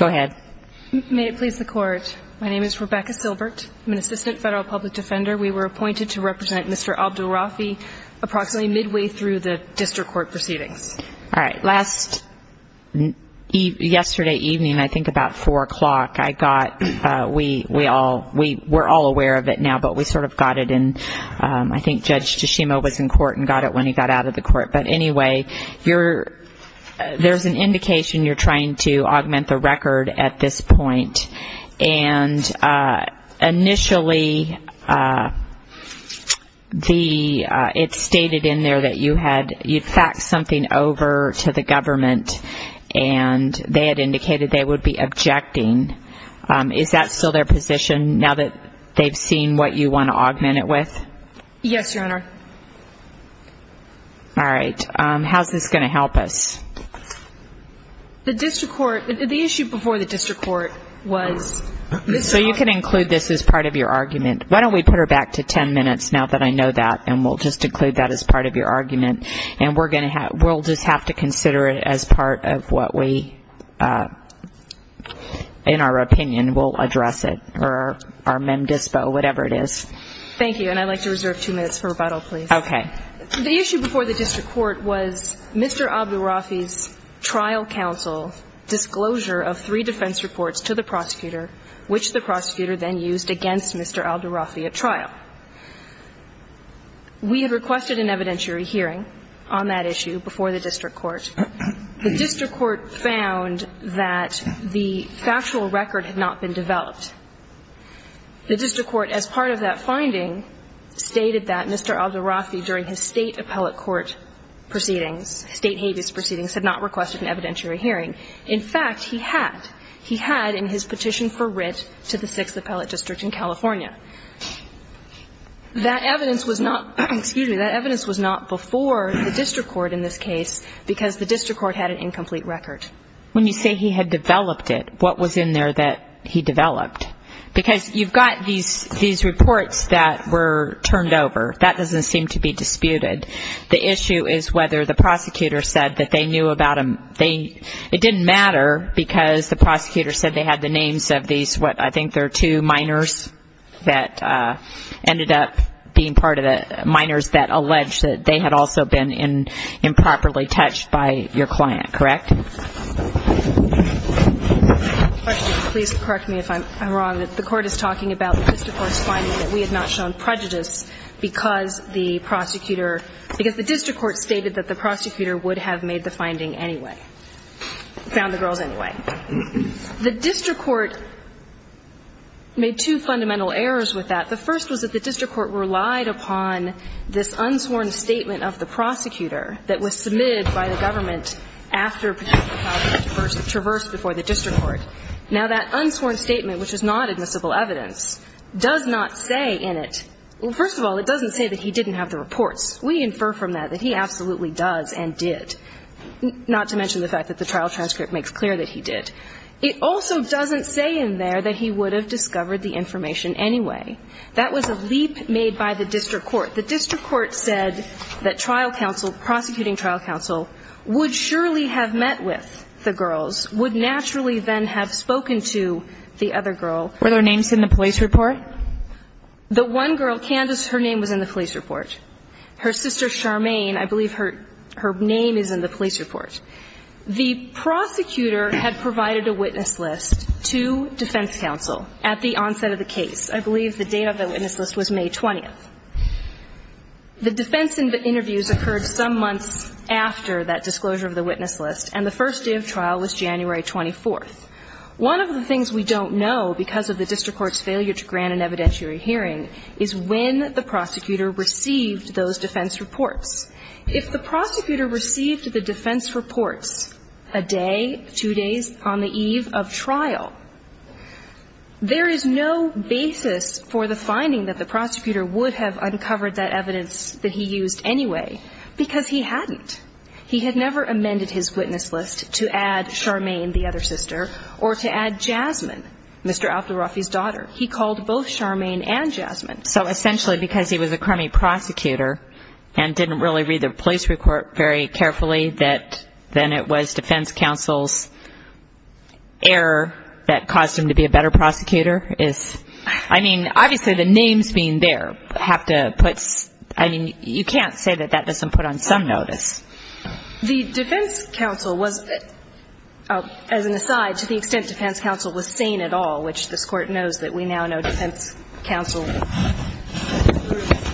May it please the Court, my name is Rebecca Silbert, I'm an Assistant Federal Public Defender. We were appointed to represent Mr. Abdulrafi approximately midway through the district court proceedings. All right, last, yesterday evening, I think about 4 o'clock, I got, we all, we're all aware of it now, but we sort of got it in, I think Judge Tashimo was in court and got it when he got out of the court. But anyway, you're, there's an indication you're trying to augment the record at this point and initially the, it's stated in there that you had, you'd faxed something over to the government and they had indicated they would be objecting. Is that still their position now that they've seen what you want to augment it with? Yes, Your Honor. All right, how's this going to help us? The district court, the issue before the district court was Mr. Abdulrafi. So you can include this as part of your argument. Why don't we put her back to 10 minutes now that I know that and we'll just include that as part of your argument. And we're going to have, we'll just have to consider it as part of what we, in our opinion, we'll address it or our mem dispo, whatever it is. Thank you, and I'd like to reserve two minutes for rebuttal, please. Okay. The issue before the district court was Mr. Abdulrafi's trial counsel disclosure of three defense reports to the prosecutor, which the prosecutor then used against Mr. Abdulrafi at trial. We had requested an evidentiary hearing on that issue before the district court. The district court found that the factual record had not been developed. The district court, as part of that finding, stated that Mr. Abdulrafi, during his state appellate court proceedings, state habeas proceedings, had not requested an evidentiary hearing. In fact, he had. He had in his petition for writ to the 6th Appellate District in California. That evidence was not, excuse me, that evidence was not before the district court in this case because the district court had an incomplete record. When you say he had developed it, what was in there that he developed? Because you've got these reports that were turned over. That doesn't seem to be disputed. The issue is whether the prosecutor said that they knew about them. It didn't matter because the prosecutor said they had the names of these, what, I think there are two minors that ended up being part of it, minors that alleged that they had also been improperly touched by your client, correct? Please correct me if I'm wrong. The court is talking about the district court's finding that we had not shown prejudice because the prosecutor, because the district court stated that the prosecutor would have made the finding anyway, found the girls anyway. The district court made two fundamental errors with that. The first was that the district court relied upon this unsworn statement of the prosecutor that was submitted by the government after Prosecutor Powell had traversed before the district court. Now, that unsworn statement, which is not admissible evidence, does not say in it, well, first of all, it doesn't say that he didn't have the reports. We infer from that that he absolutely does and did, not to mention the fact that the trial transcript makes clear that he did. It also doesn't say in there that he would have discovered the information anyway. That was a leap made by the district court. The district court said that trial counsel, prosecuting trial counsel, would surely have met with the girls, would naturally then have spoken to the other girl. Were their names in the police report? The one girl, Candice, her name was in the police report. Her sister, Charmaine, I believe her name is in the police report. The prosecutor had provided a witness list to defense counsel at the onset of the case. I believe the date of the witness list was May 20th. The defense interviews occurred some months after that disclosure of the witness list, and the first day of trial was January 24th. One of the things we don't know because of the district court's failure to grant an evidentiary hearing is when the prosecutor received those defense reports. If the prosecutor received the defense reports a day, two days on the eve of trial, there is no basis for the finding that the prosecutor would have uncovered that evidence that he used anyway, because he hadn't. He had never amended his witness list to add Charmaine, the other sister, or to add Jasmine, Mr. Abdul-Rafi's daughter. He called both Charmaine and Jasmine. So essentially because he was a crummy prosecutor and didn't really read the police report very carefully, that then it was defense counsel's error that caused him to be a better prosecutor is, I mean, obviously the names being there have to put, I mean, you can't say that that doesn't put on some notice. The defense counsel was, as an aside, to the extent defense counsel was sane at all, which this Court knows that we now know defense counsel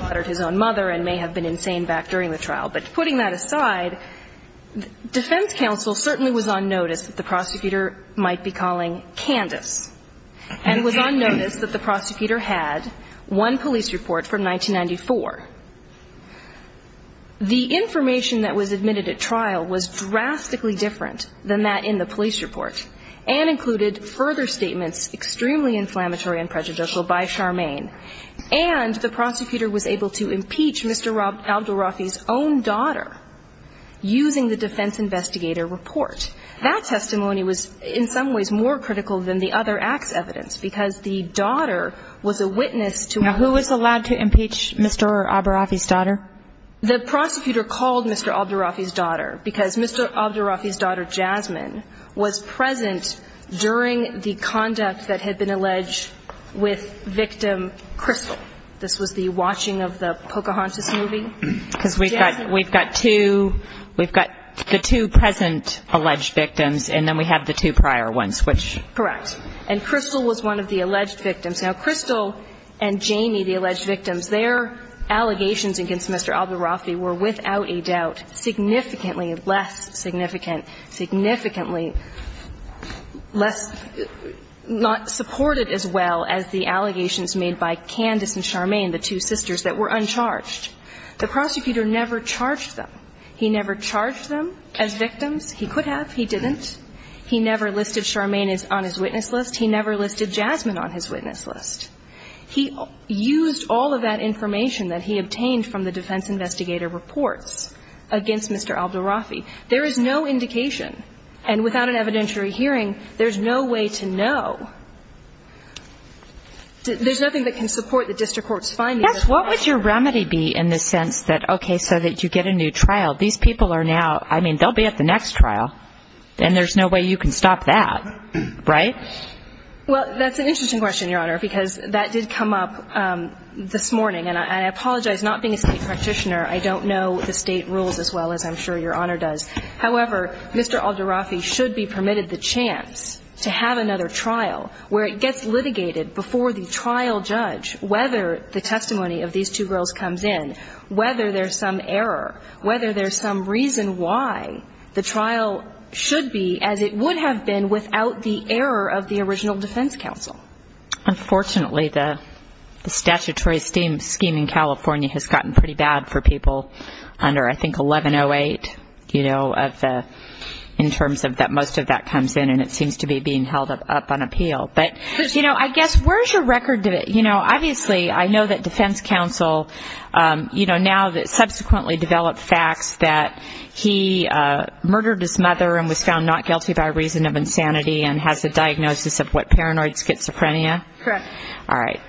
murdered his own mother and may have been insane back during the trial. But putting that aside, defense counsel certainly was on notice that the prosecutor might be calling Candace, and was on notice that the prosecutor had one police report from 1994. The information that was admitted at trial was drastically different than that in the police report, and included further statements extremely inflammatory and prejudicial by Charmaine, and the prosecutor was able to impeach Mr. Abdul-Rafi's own daughter using the defense investigator report. That testimony was in some ways more critical than the other act's evidence, because the daughter was a witness to a murder. Now, who was allowed to impeach Mr. Abdul-Rafi's daughter? The prosecutor called Mr. Abdul-Rafi's daughter because Mr. Abdul-Rafi's daughter, Jasmine, was present during the conduct that had been alleged with victim Crystal. This was the watching of the Pocahontas movie. Because we've got two, we've got the two present alleged victims, and then we have the two prior ones, which... Correct. And Crystal was one of the alleged victims. Now, Crystal and Jamie, the alleged victims, their allegations against Mr. Abdul-Rafi were without a doubt significantly less significant, significantly less not supported as well as the allegations made by Candace and Charmaine, the two sisters that were uncharged. The prosecutor never charged them. He never charged them as victims. He could have. He didn't. He never listed Charmaine on his witness list. He never listed Jasmine on his witness list. He used all of that information that he obtained from the defense investigator reports against Mr. Abdul-Rafi. There is no indication, and without an evidentiary hearing, there's no way to know. There's nothing that can support the district court's findings. What would your remedy be in the sense that, okay, so that you get a new trial. These people are now, I mean, they'll be at the next trial, and there's no way you can stop that, right? Well, that's an interesting question, Your Honor, because that did come up this morning, and I apologize not being a state practitioner. I don't know the state rules as well as I'm sure Your Honor does. However, Mr. Abdul-Rafi should be permitted the chance to have another trial where it gets litigated before the trial judge whether the testimony of these two girls comes in, whether there's some error, whether there's some reason why the trial should be as it would have been without the error of the original defense counsel. Unfortunately, the statutory scheme in California has gotten pretty bad for people under, I think, 1108, you know, in terms of that most of that comes in, and it seems to be being held up on appeal. But, you know, I guess where's your record? You know, obviously I know that defense counsel, you know, now that subsequently developed facts that he murdered his mother and was found not guilty by reason of insanity and has a diagnosis of what, paranoid schizophrenia? Correct. All right.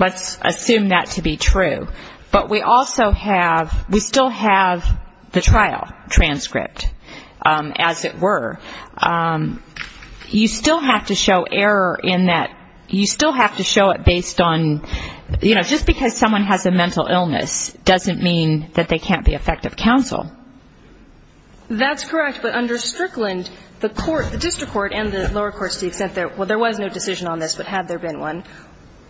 Let's assume that to be true. But we also have, we still have the trial transcript, as it were. You still have to show error in that, you still have to show it based on, you know, just because someone has a mental illness doesn't mean that they can't be effective counsel. That's correct. But under Strickland, the court, the district court and the lower courts to the extent that, well, there was no decision on this, but had there been one,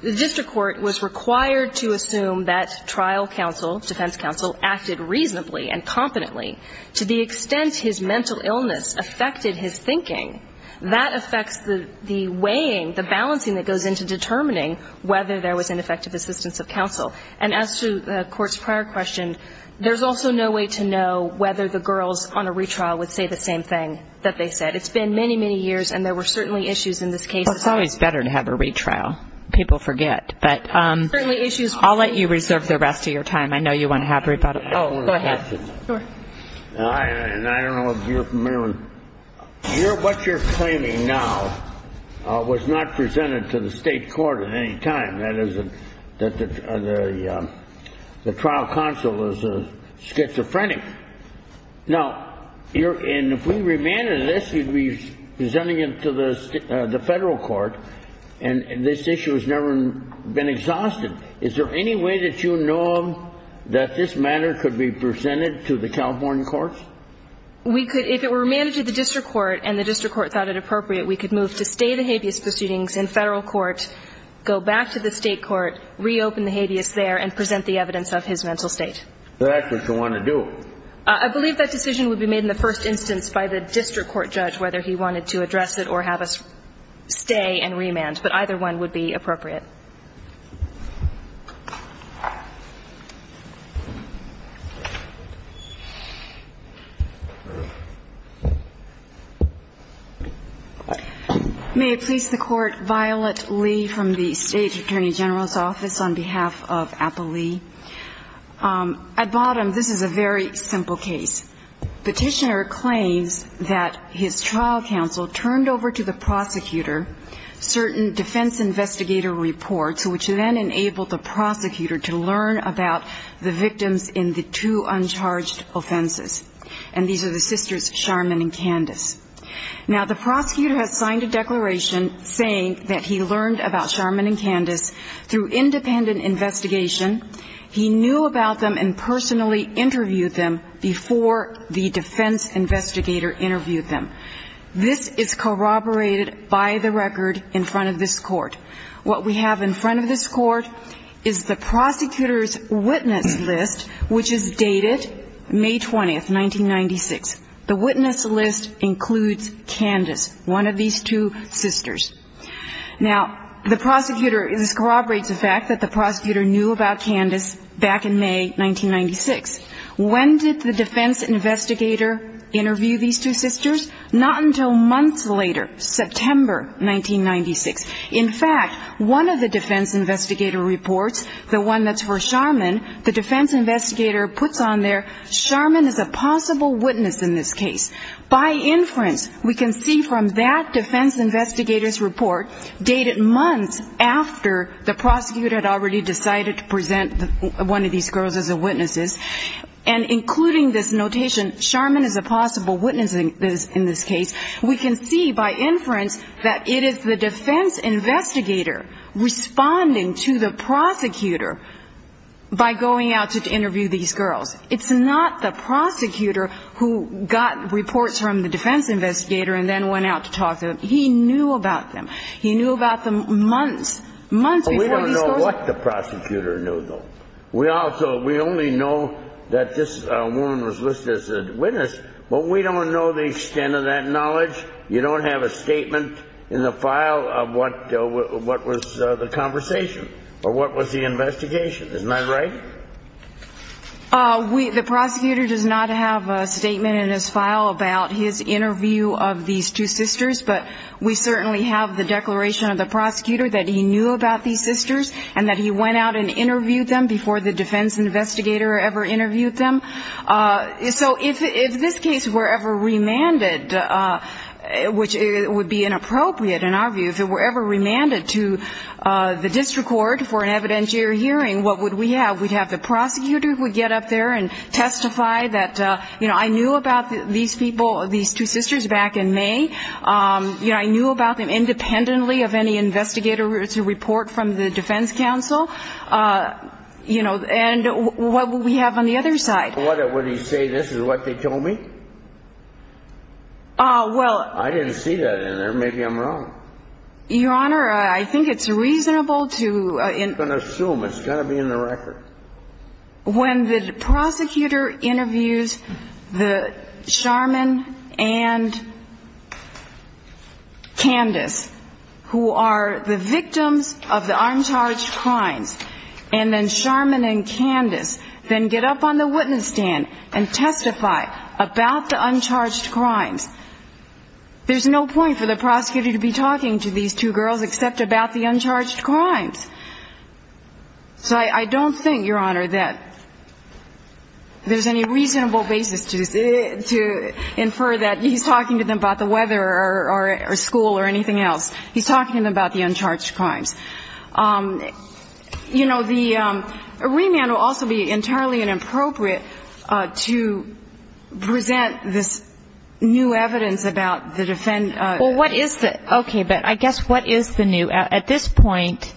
the district court was required to assume that trial counsel, defense counsel, acted reasonably and competently to the extent his mental illness affected his thinking. That affects the weighing, the balancing that goes into determining whether there was ineffective assistance of counsel. And as to the court's prior question, there's also no way to know whether the girls on a retrial would say the same thing that they said. It's been many, many years, and there were certainly issues in this case. Well, it's always better to have a retrial. People forget. But I'll let you reserve the rest of your time. I know you want to have a rebuttal. Oh, go ahead. Sure. I don't know if you're familiar. What you're claiming now was not presented to the state court at any time. That is that the trial counsel is a schizophrenic. Now, and if we remanded this, we'd be presenting it to the federal court, and this issue has never been exhausted. Is there any way that you know that this matter could be presented to the California courts? We could. If it were remanded to the district court and the district court thought it appropriate, we could move to stay the habeas proceedings in federal court, go back to the state court, reopen the habeas there, and present the evidence of his mental state. That's what you want to do. I believe that decision would be made in the first instance by the district court judge, whether he wanted to address it or have us stay and remand. But either one would be appropriate. May it please the court, Violet Lee from the state attorney general's office on behalf of Apple Lee. At bottom, this is a very simple case. Petitioner claims that his trial counsel turned over to the prosecutor certain defense investigator reports, which then enabled the prosecutor to learn about the victims in the two uncharged offenses. And these are the sisters Sharman and Candice. Now, the prosecutor has signed a declaration saying that he learned about Sharman and Candice through independent investigation. He knew about them and personally interviewed them before the defense investigator interviewed them. This is corroborated by the record in front of this court. What we have in front of this court is the prosecutor's witness list, which is dated May 20th, 1996. The witness list includes Candice, one of these two sisters. Now, the prosecutor, this corroborates the fact that the prosecutor knew about Candice back in May 1996. When did the defense investigator interview these two sisters? Not until months later, September 1996. In fact, one of the defense investigator reports, the one that's for Sharman, the defense investigator puts on there, Sharman is a possible witness in this case. By inference, we can see from that defense investigator's report, dated months after the prosecutor had already decided to present one of these girls as witnesses, and including this notation, Sharman is a possible witness in this case, we can see by inference that it is the defense investigator responding to the prosecutor by going out to interview these girls. It's not the prosecutor who got reports from the defense investigator and then went out to talk to them. He knew about them. He knew about them months, months before these girls. But we don't know what the prosecutor knew, though. We only know that this woman was listed as a witness, but we don't know the extent of that knowledge. You don't have a statement in the file of what was the conversation or what was the investigation, isn't that right? The prosecutor does not have a statement in his file about his interview of these two sisters, but we certainly have the declaration of the prosecutor that he knew about these sisters and that he went out and interviewed them before the defense investigator ever interviewed them. So if this case were ever remanded, which would be inappropriate in our view, if it were ever remanded to the district court for an evidentiary hearing, what would we have? We'd have the prosecutor who would get up there and testify that, you know, I knew about these people, these two sisters back in May. I knew about them independently of any investigator to report from the defense counsel. And what would we have on the other side? Would he say this is what they told me? I didn't see that in there. Maybe I'm wrong. Your Honor, I think it's reasonable to assume it's going to be in the record. When the prosecutor interviews the Sharman and Candace, who are the victims of the uncharged crimes, and then Sharman and Candace then get up on the witness stand and testify about the uncharged crimes, there's no point for the prosecutor to be talking to these two girls except about the uncharged crimes. So I don't think, Your Honor, that there's any reasonable basis to infer that he's talking to them about the weather or school or anything else. He's talking to them about the uncharged crimes. You know, the remand will also be entirely inappropriate to present this new evidence about the defendant. Well, what is the ñ okay, but I guess what is the new? At this point,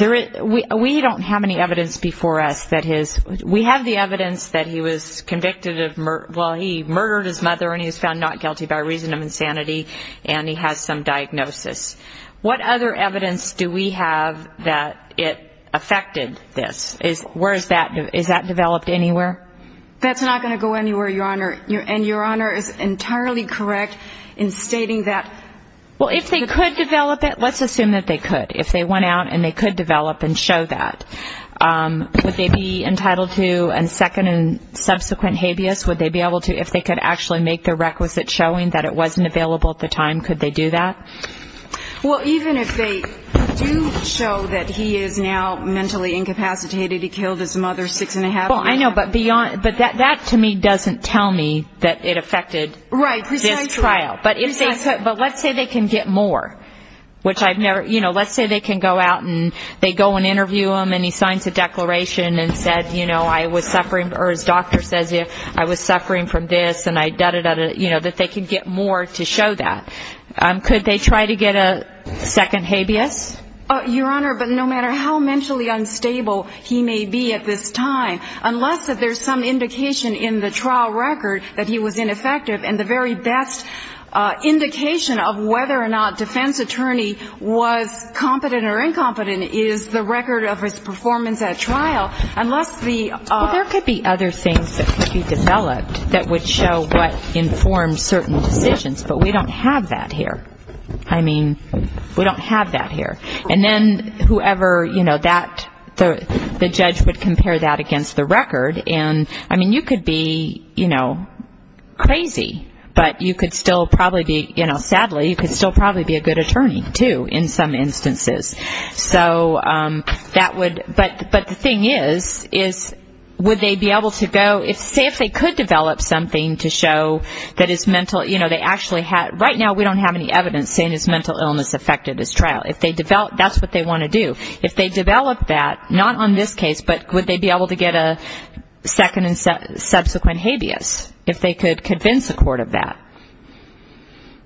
we don't have any evidence before us that his ñ we have the evidence that he was convicted of ñ well, he murdered his mother and he was found not guilty by reason of insanity, and he has some diagnosis. What other evidence do we have that it affected this? Where is that ñ is that developed anywhere? That's not going to go anywhere, Your Honor. And Your Honor is entirely correct in stating that ñ Well, if they could develop it, let's assume that they could. If they went out and they could develop and show that, would they be entitled to a second and subsequent habeas? Would they be able to ñ if they could actually make the requisite showing that it wasn't available at the time, could they do that? Well, even if they do show that he is now mentally incapacitated, he killed his mother six and a half years ago. Well, I know, but beyond ñ but that to me doesn't tell me that it affected this trial. Right, precisely. But let's say they can get more, which I've never ñ you know, let's say they can go out and they go and interview him and he signs a declaration and said, you know, I was suffering ñ or his doctor says I was suffering from this and I da-da-da-da, you know, that they can get more to show that. Could they try to get a second habeas? Your Honor, but no matter how mentally unstable he may be at this time, unless that there's some indication in the trial record that he was ineffective and the very best indication of whether or not defense attorney was competent or incompetent is the record of his performance at trial, unless the ñ Well, there could be other things that could be developed that would show what informs certain decisions, but we don't have that here. I mean, we don't have that here. And then whoever, you know, that ñ the judge would compare that against the record and, I mean, you could be, you know, crazy, but you could still probably be ñ you know, sadly, you could still probably be a good attorney too in some instances. So that would ñ but the thing is, is would they be able to go ñ say if they could develop something to show that his mental ñ you know, they actually had ñ right now we don't have any evidence saying his mental illness affected his trial. If they develop ñ that's what they want to do. If they develop that, not on this case, but would they be able to get a second and subsequent habeas, if they could convince a court of that?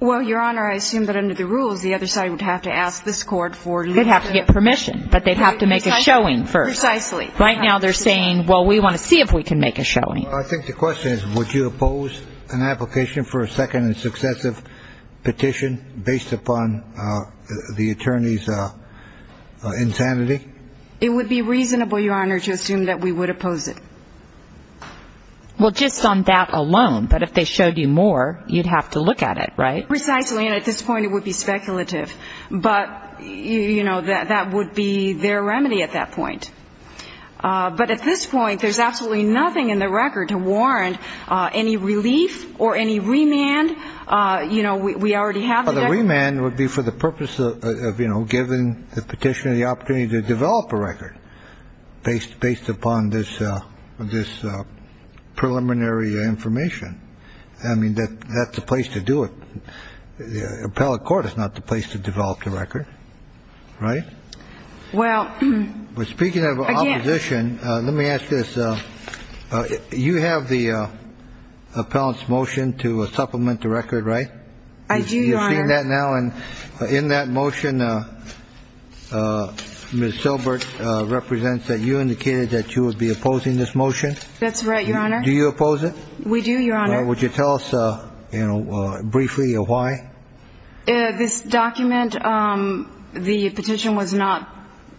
Well, Your Honor, I assume that under the rules, the other side would have to ask this court for ñ They'd have to get permission, but they'd have to make a showing first. Precisely. Right now they're saying, well, we want to see if we can make a showing. Well, I think the question is would you oppose an application for a second and successive petition based upon the attorney's insanity? It would be reasonable, Your Honor, to assume that we would oppose it. Well, just on that alone, but if they showed you more, you'd have to look at it, right? Precisely, and at this point it would be speculative. But, you know, that would be their remedy at that point. But at this point, there's absolutely nothing in the record to warrant any relief or any remand. You know, we already have the record. Well, the remand would be for the purpose of, you know, giving the petitioner the opportunity to develop a record based upon this preliminary information. I mean, that's the place to do it. The appellate court is not the place to develop the record, right? Well, again ñ But speaking of opposition, let me ask this. You have the appellant's motion to supplement the record, right? I do, Your Honor. You've seen that now, and in that motion, Ms. Silbert represents that you indicated that you would be opposing this motion. That's right, Your Honor. Do you oppose it? We do, Your Honor. Would you tell us briefly why? This document, the petition was not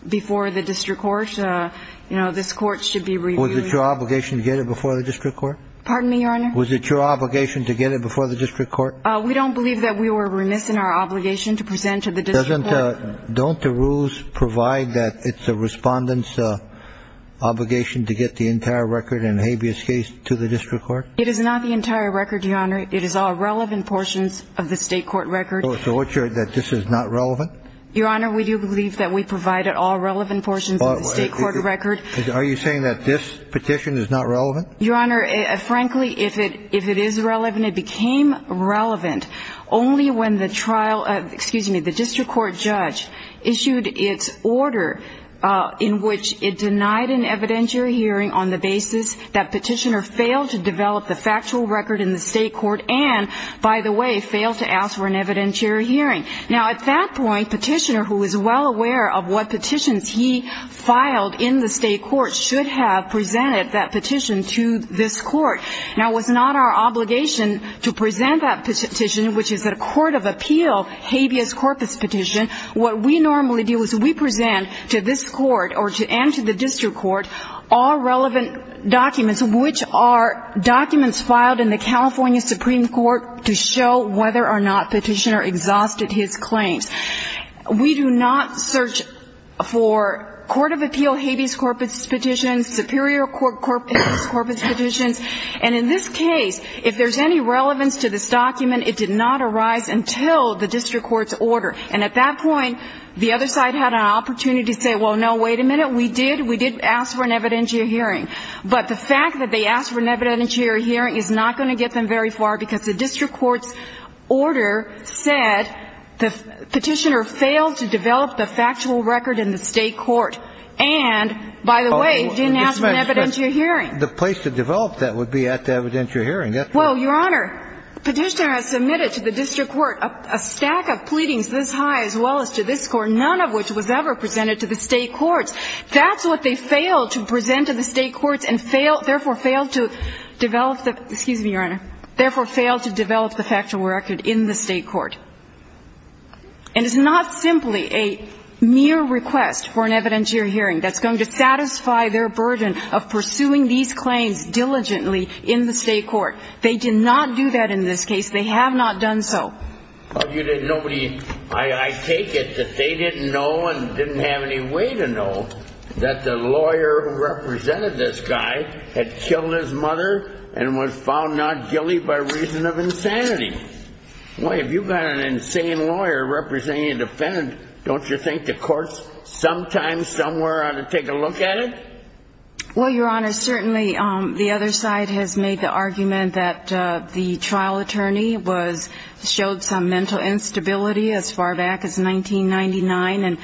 before the district court. You know, this court should be reviewing it. Was it your obligation to get it before the district court? Pardon me, Your Honor? Was it your obligation to get it before the district court? We don't believe that we were remiss in our obligation to present to the district court. Don't the rules provide that it's a respondent's obligation to get the entire record in habeas case to the district court? It is not the entire record, Your Honor. It is all relevant portions of the state court record. So what's your ñ that this is not relevant? Your Honor, we do believe that we provided all relevant portions of the state court record. Are you saying that this petition is not relevant? Your Honor, frankly, if it is relevant, it became relevant only when the trial ñ excuse me, the district court judge issued its order in which it denied an evidentiary hearing on the basis that petitioner failed to develop the factual record in the state court and, by the way, failed to ask for an evidentiary hearing. Now, at that point, petitioner, who is well aware of what petitions he filed in the state court, should have presented that petition to this court. Now, it was not our obligation to present that petition, which is a court of appeal habeas corpus petition. What we normally do is we present to this court and to the district court all relevant documents, which are documents filed in the California Supreme Court to show whether or not petitioner exhausted his claims. We do not search for court of appeal habeas corpus petitions, superior court corpus petitions. And in this case, if there's any relevance to this document, it did not arise until the district court's order. And at that point, the other side had an opportunity to say, well, no, wait a minute, we did. We did ask for an evidentiary hearing. But the fact that they asked for an evidentiary hearing is not going to get them very far because the district court's order said the petitioner failed to develop the factual record in the state court and, by the way, didn't ask for an evidentiary hearing. The place to develop that would be at the evidentiary hearing. Well, Your Honor, petitioner has submitted to the district court a stack of pleadings this high as well as to this court, none of which was ever presented to the state courts. That's what they failed to present to the state courts and failed to develop the factual record in the state court. And it's not simply a mere request for an evidentiary hearing that's going to satisfy their burden of pursuing these claims diligently in the state court. They did not do that in this case. They have not done so. I take it that they didn't know and didn't have any way to know that the lawyer who represented this guy had killed his mother and was found not guilty by reason of insanity. Boy, if you've got an insane lawyer representing a defendant, don't you think the courts sometimes somewhere ought to take a look at it? Well, Your Honor, certainly the other side has made the argument that the trial attorney showed some mental instability as far back as 1999 and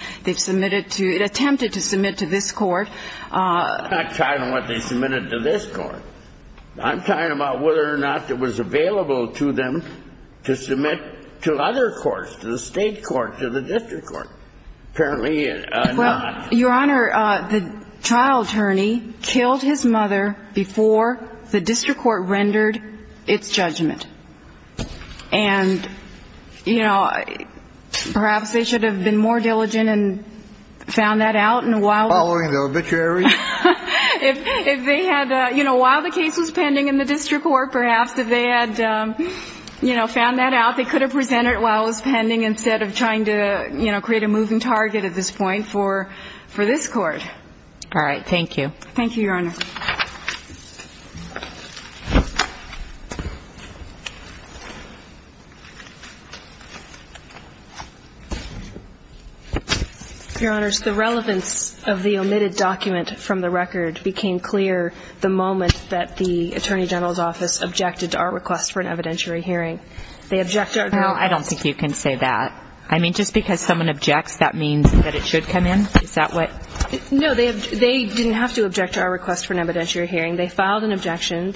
attempted to submit to this court. I'm not talking about what they submitted to this court. I'm talking about whether or not it was available to them to submit to other courts, to the state court, to the district court. Apparently not. Well, Your Honor, the trial attorney killed his mother before the district court rendered its judgment. And, you know, perhaps they should have been more diligent and found that out. Following the obituary? If they had, you know, while the case was pending in the district court, perhaps if they had, you know, found that out, they could have presented it while it was pending instead of trying to, you know, create a moving target at this point for this court. All right. Thank you. Thank you, Your Honor. Your Honors, the relevance of the omitted document from the record became clear the moment that the Attorney General's Office objected to our request for an evidentiary hearing. They objected to our request. Well, I don't think you can say that. I mean, just because someone objects, that means that it should come in? Is that what? No. They didn't have to object to our request for an evidentiary hearing. They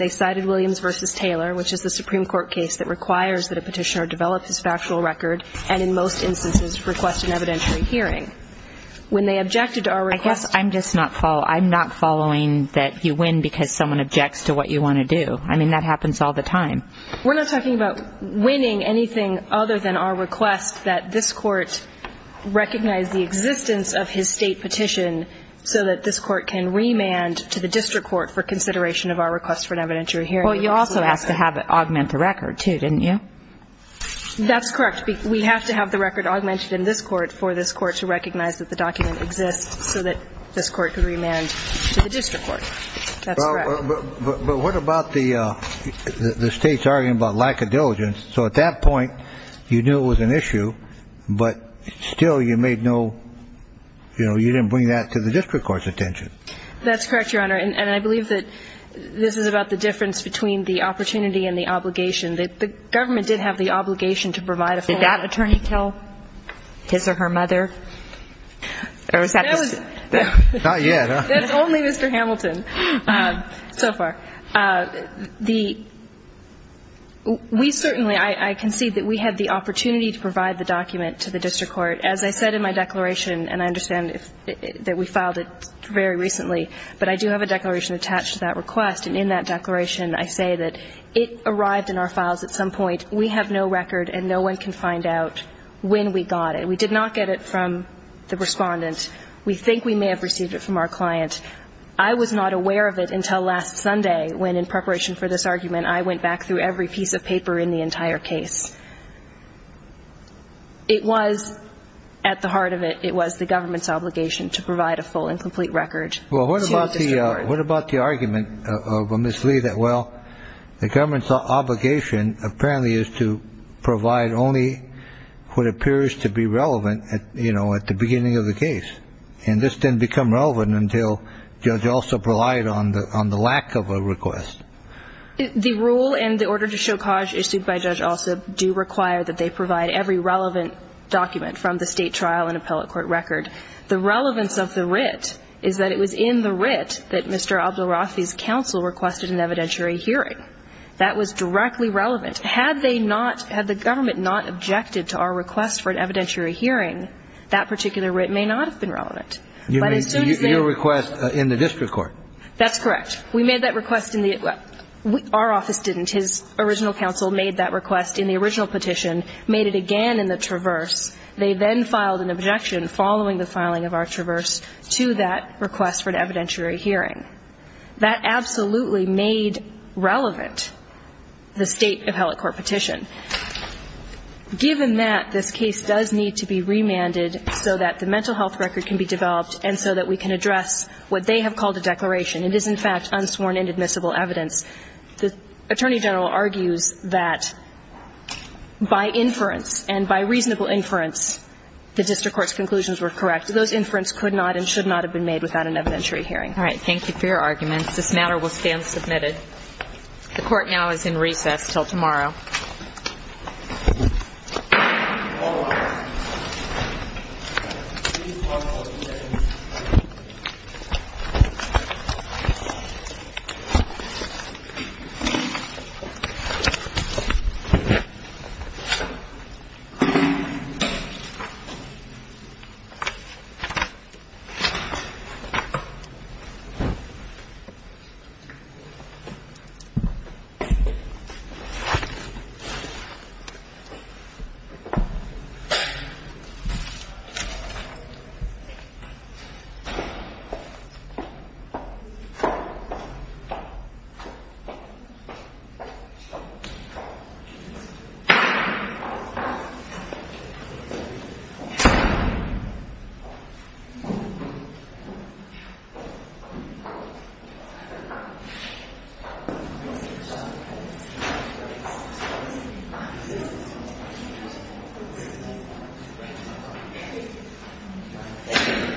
cited Williams v. Taylor, which is the Supreme Court ruling. It's a Supreme Court case that requires that a petitioner develop his factual record and in most instances request an evidentiary hearing. When they objected to our request. I guess I'm just not following. I'm not following that you win because someone objects to what you want to do. I mean, that happens all the time. We're not talking about winning anything other than our request that this court recognize the existence of his state petition so that this court can remand to the district court for consideration of our request for an evidentiary hearing. Well, you also asked to have it augment the record, too, didn't you? That's correct. We have to have the record augmented in this court for this court to recognize that the document exists so that this court can remand to the district court. That's correct. But what about the state's argument about lack of diligence? So at that point, you knew it was an issue, but still you made no, you know, you didn't bring that to the district court's attention. That's correct, Your Honor. And I believe that this is about the difference between the opportunity and the obligation. The government did have the obligation to provide a form. Did that attorney kill his or her mother? Not yet. That's only Mr. Hamilton so far. We certainly, I concede that we had the opportunity to provide the document to the district court. As I said in my declaration, and I understand that we filed it very recently, but I do have a declaration attached to that request, and in that declaration I say that it arrived in our files at some point. We have no record, and no one can find out when we got it. We did not get it from the respondent. We think we may have received it from our client. I was not aware of it until last Sunday when, in preparation for this argument, I went back through every piece of paper in the entire case. It was, at the heart of it, it was the government's obligation to provide a full and complete record. Well, what about the argument of Ms. Lee that, well, the government's obligation, apparently, is to provide only what appears to be relevant, you know, at the beginning of the case, and this didn't become relevant until Judge Alsop relied on the lack of a request. The rule and the order to show cause issued by Judge Alsop do require that they provide every relevant document from the state trial and appellate court record. The relevance of the writ is that it was in the writ that Mr. Abdul-Rafi's counsel requested an evidentiary hearing. That was directly relevant. Had they not, had the government not objected to our request for an evidentiary hearing, that particular writ may not have been relevant. But as soon as they ---- Your request in the district court. That's correct. We made that request in the, well, our office didn't. His original counsel made that request in the original petition, made it again in the traverse. They then filed an objection following the filing of our traverse to that request for an evidentiary hearing. That absolutely made relevant the state appellate court petition. Given that, this case does need to be remanded so that the mental health record can be developed and so that we can address what they have called a declaration. It is, in fact, unsworn and admissible evidence. The attorney general argues that by inference and by reasonable inference, the district court's conclusions were correct. Those inference could not and should not have been made without an evidentiary hearing. All right. Thank you for your arguments. This matter will stand submitted. The Court now is in recess until tomorrow. Thank you. Thank you.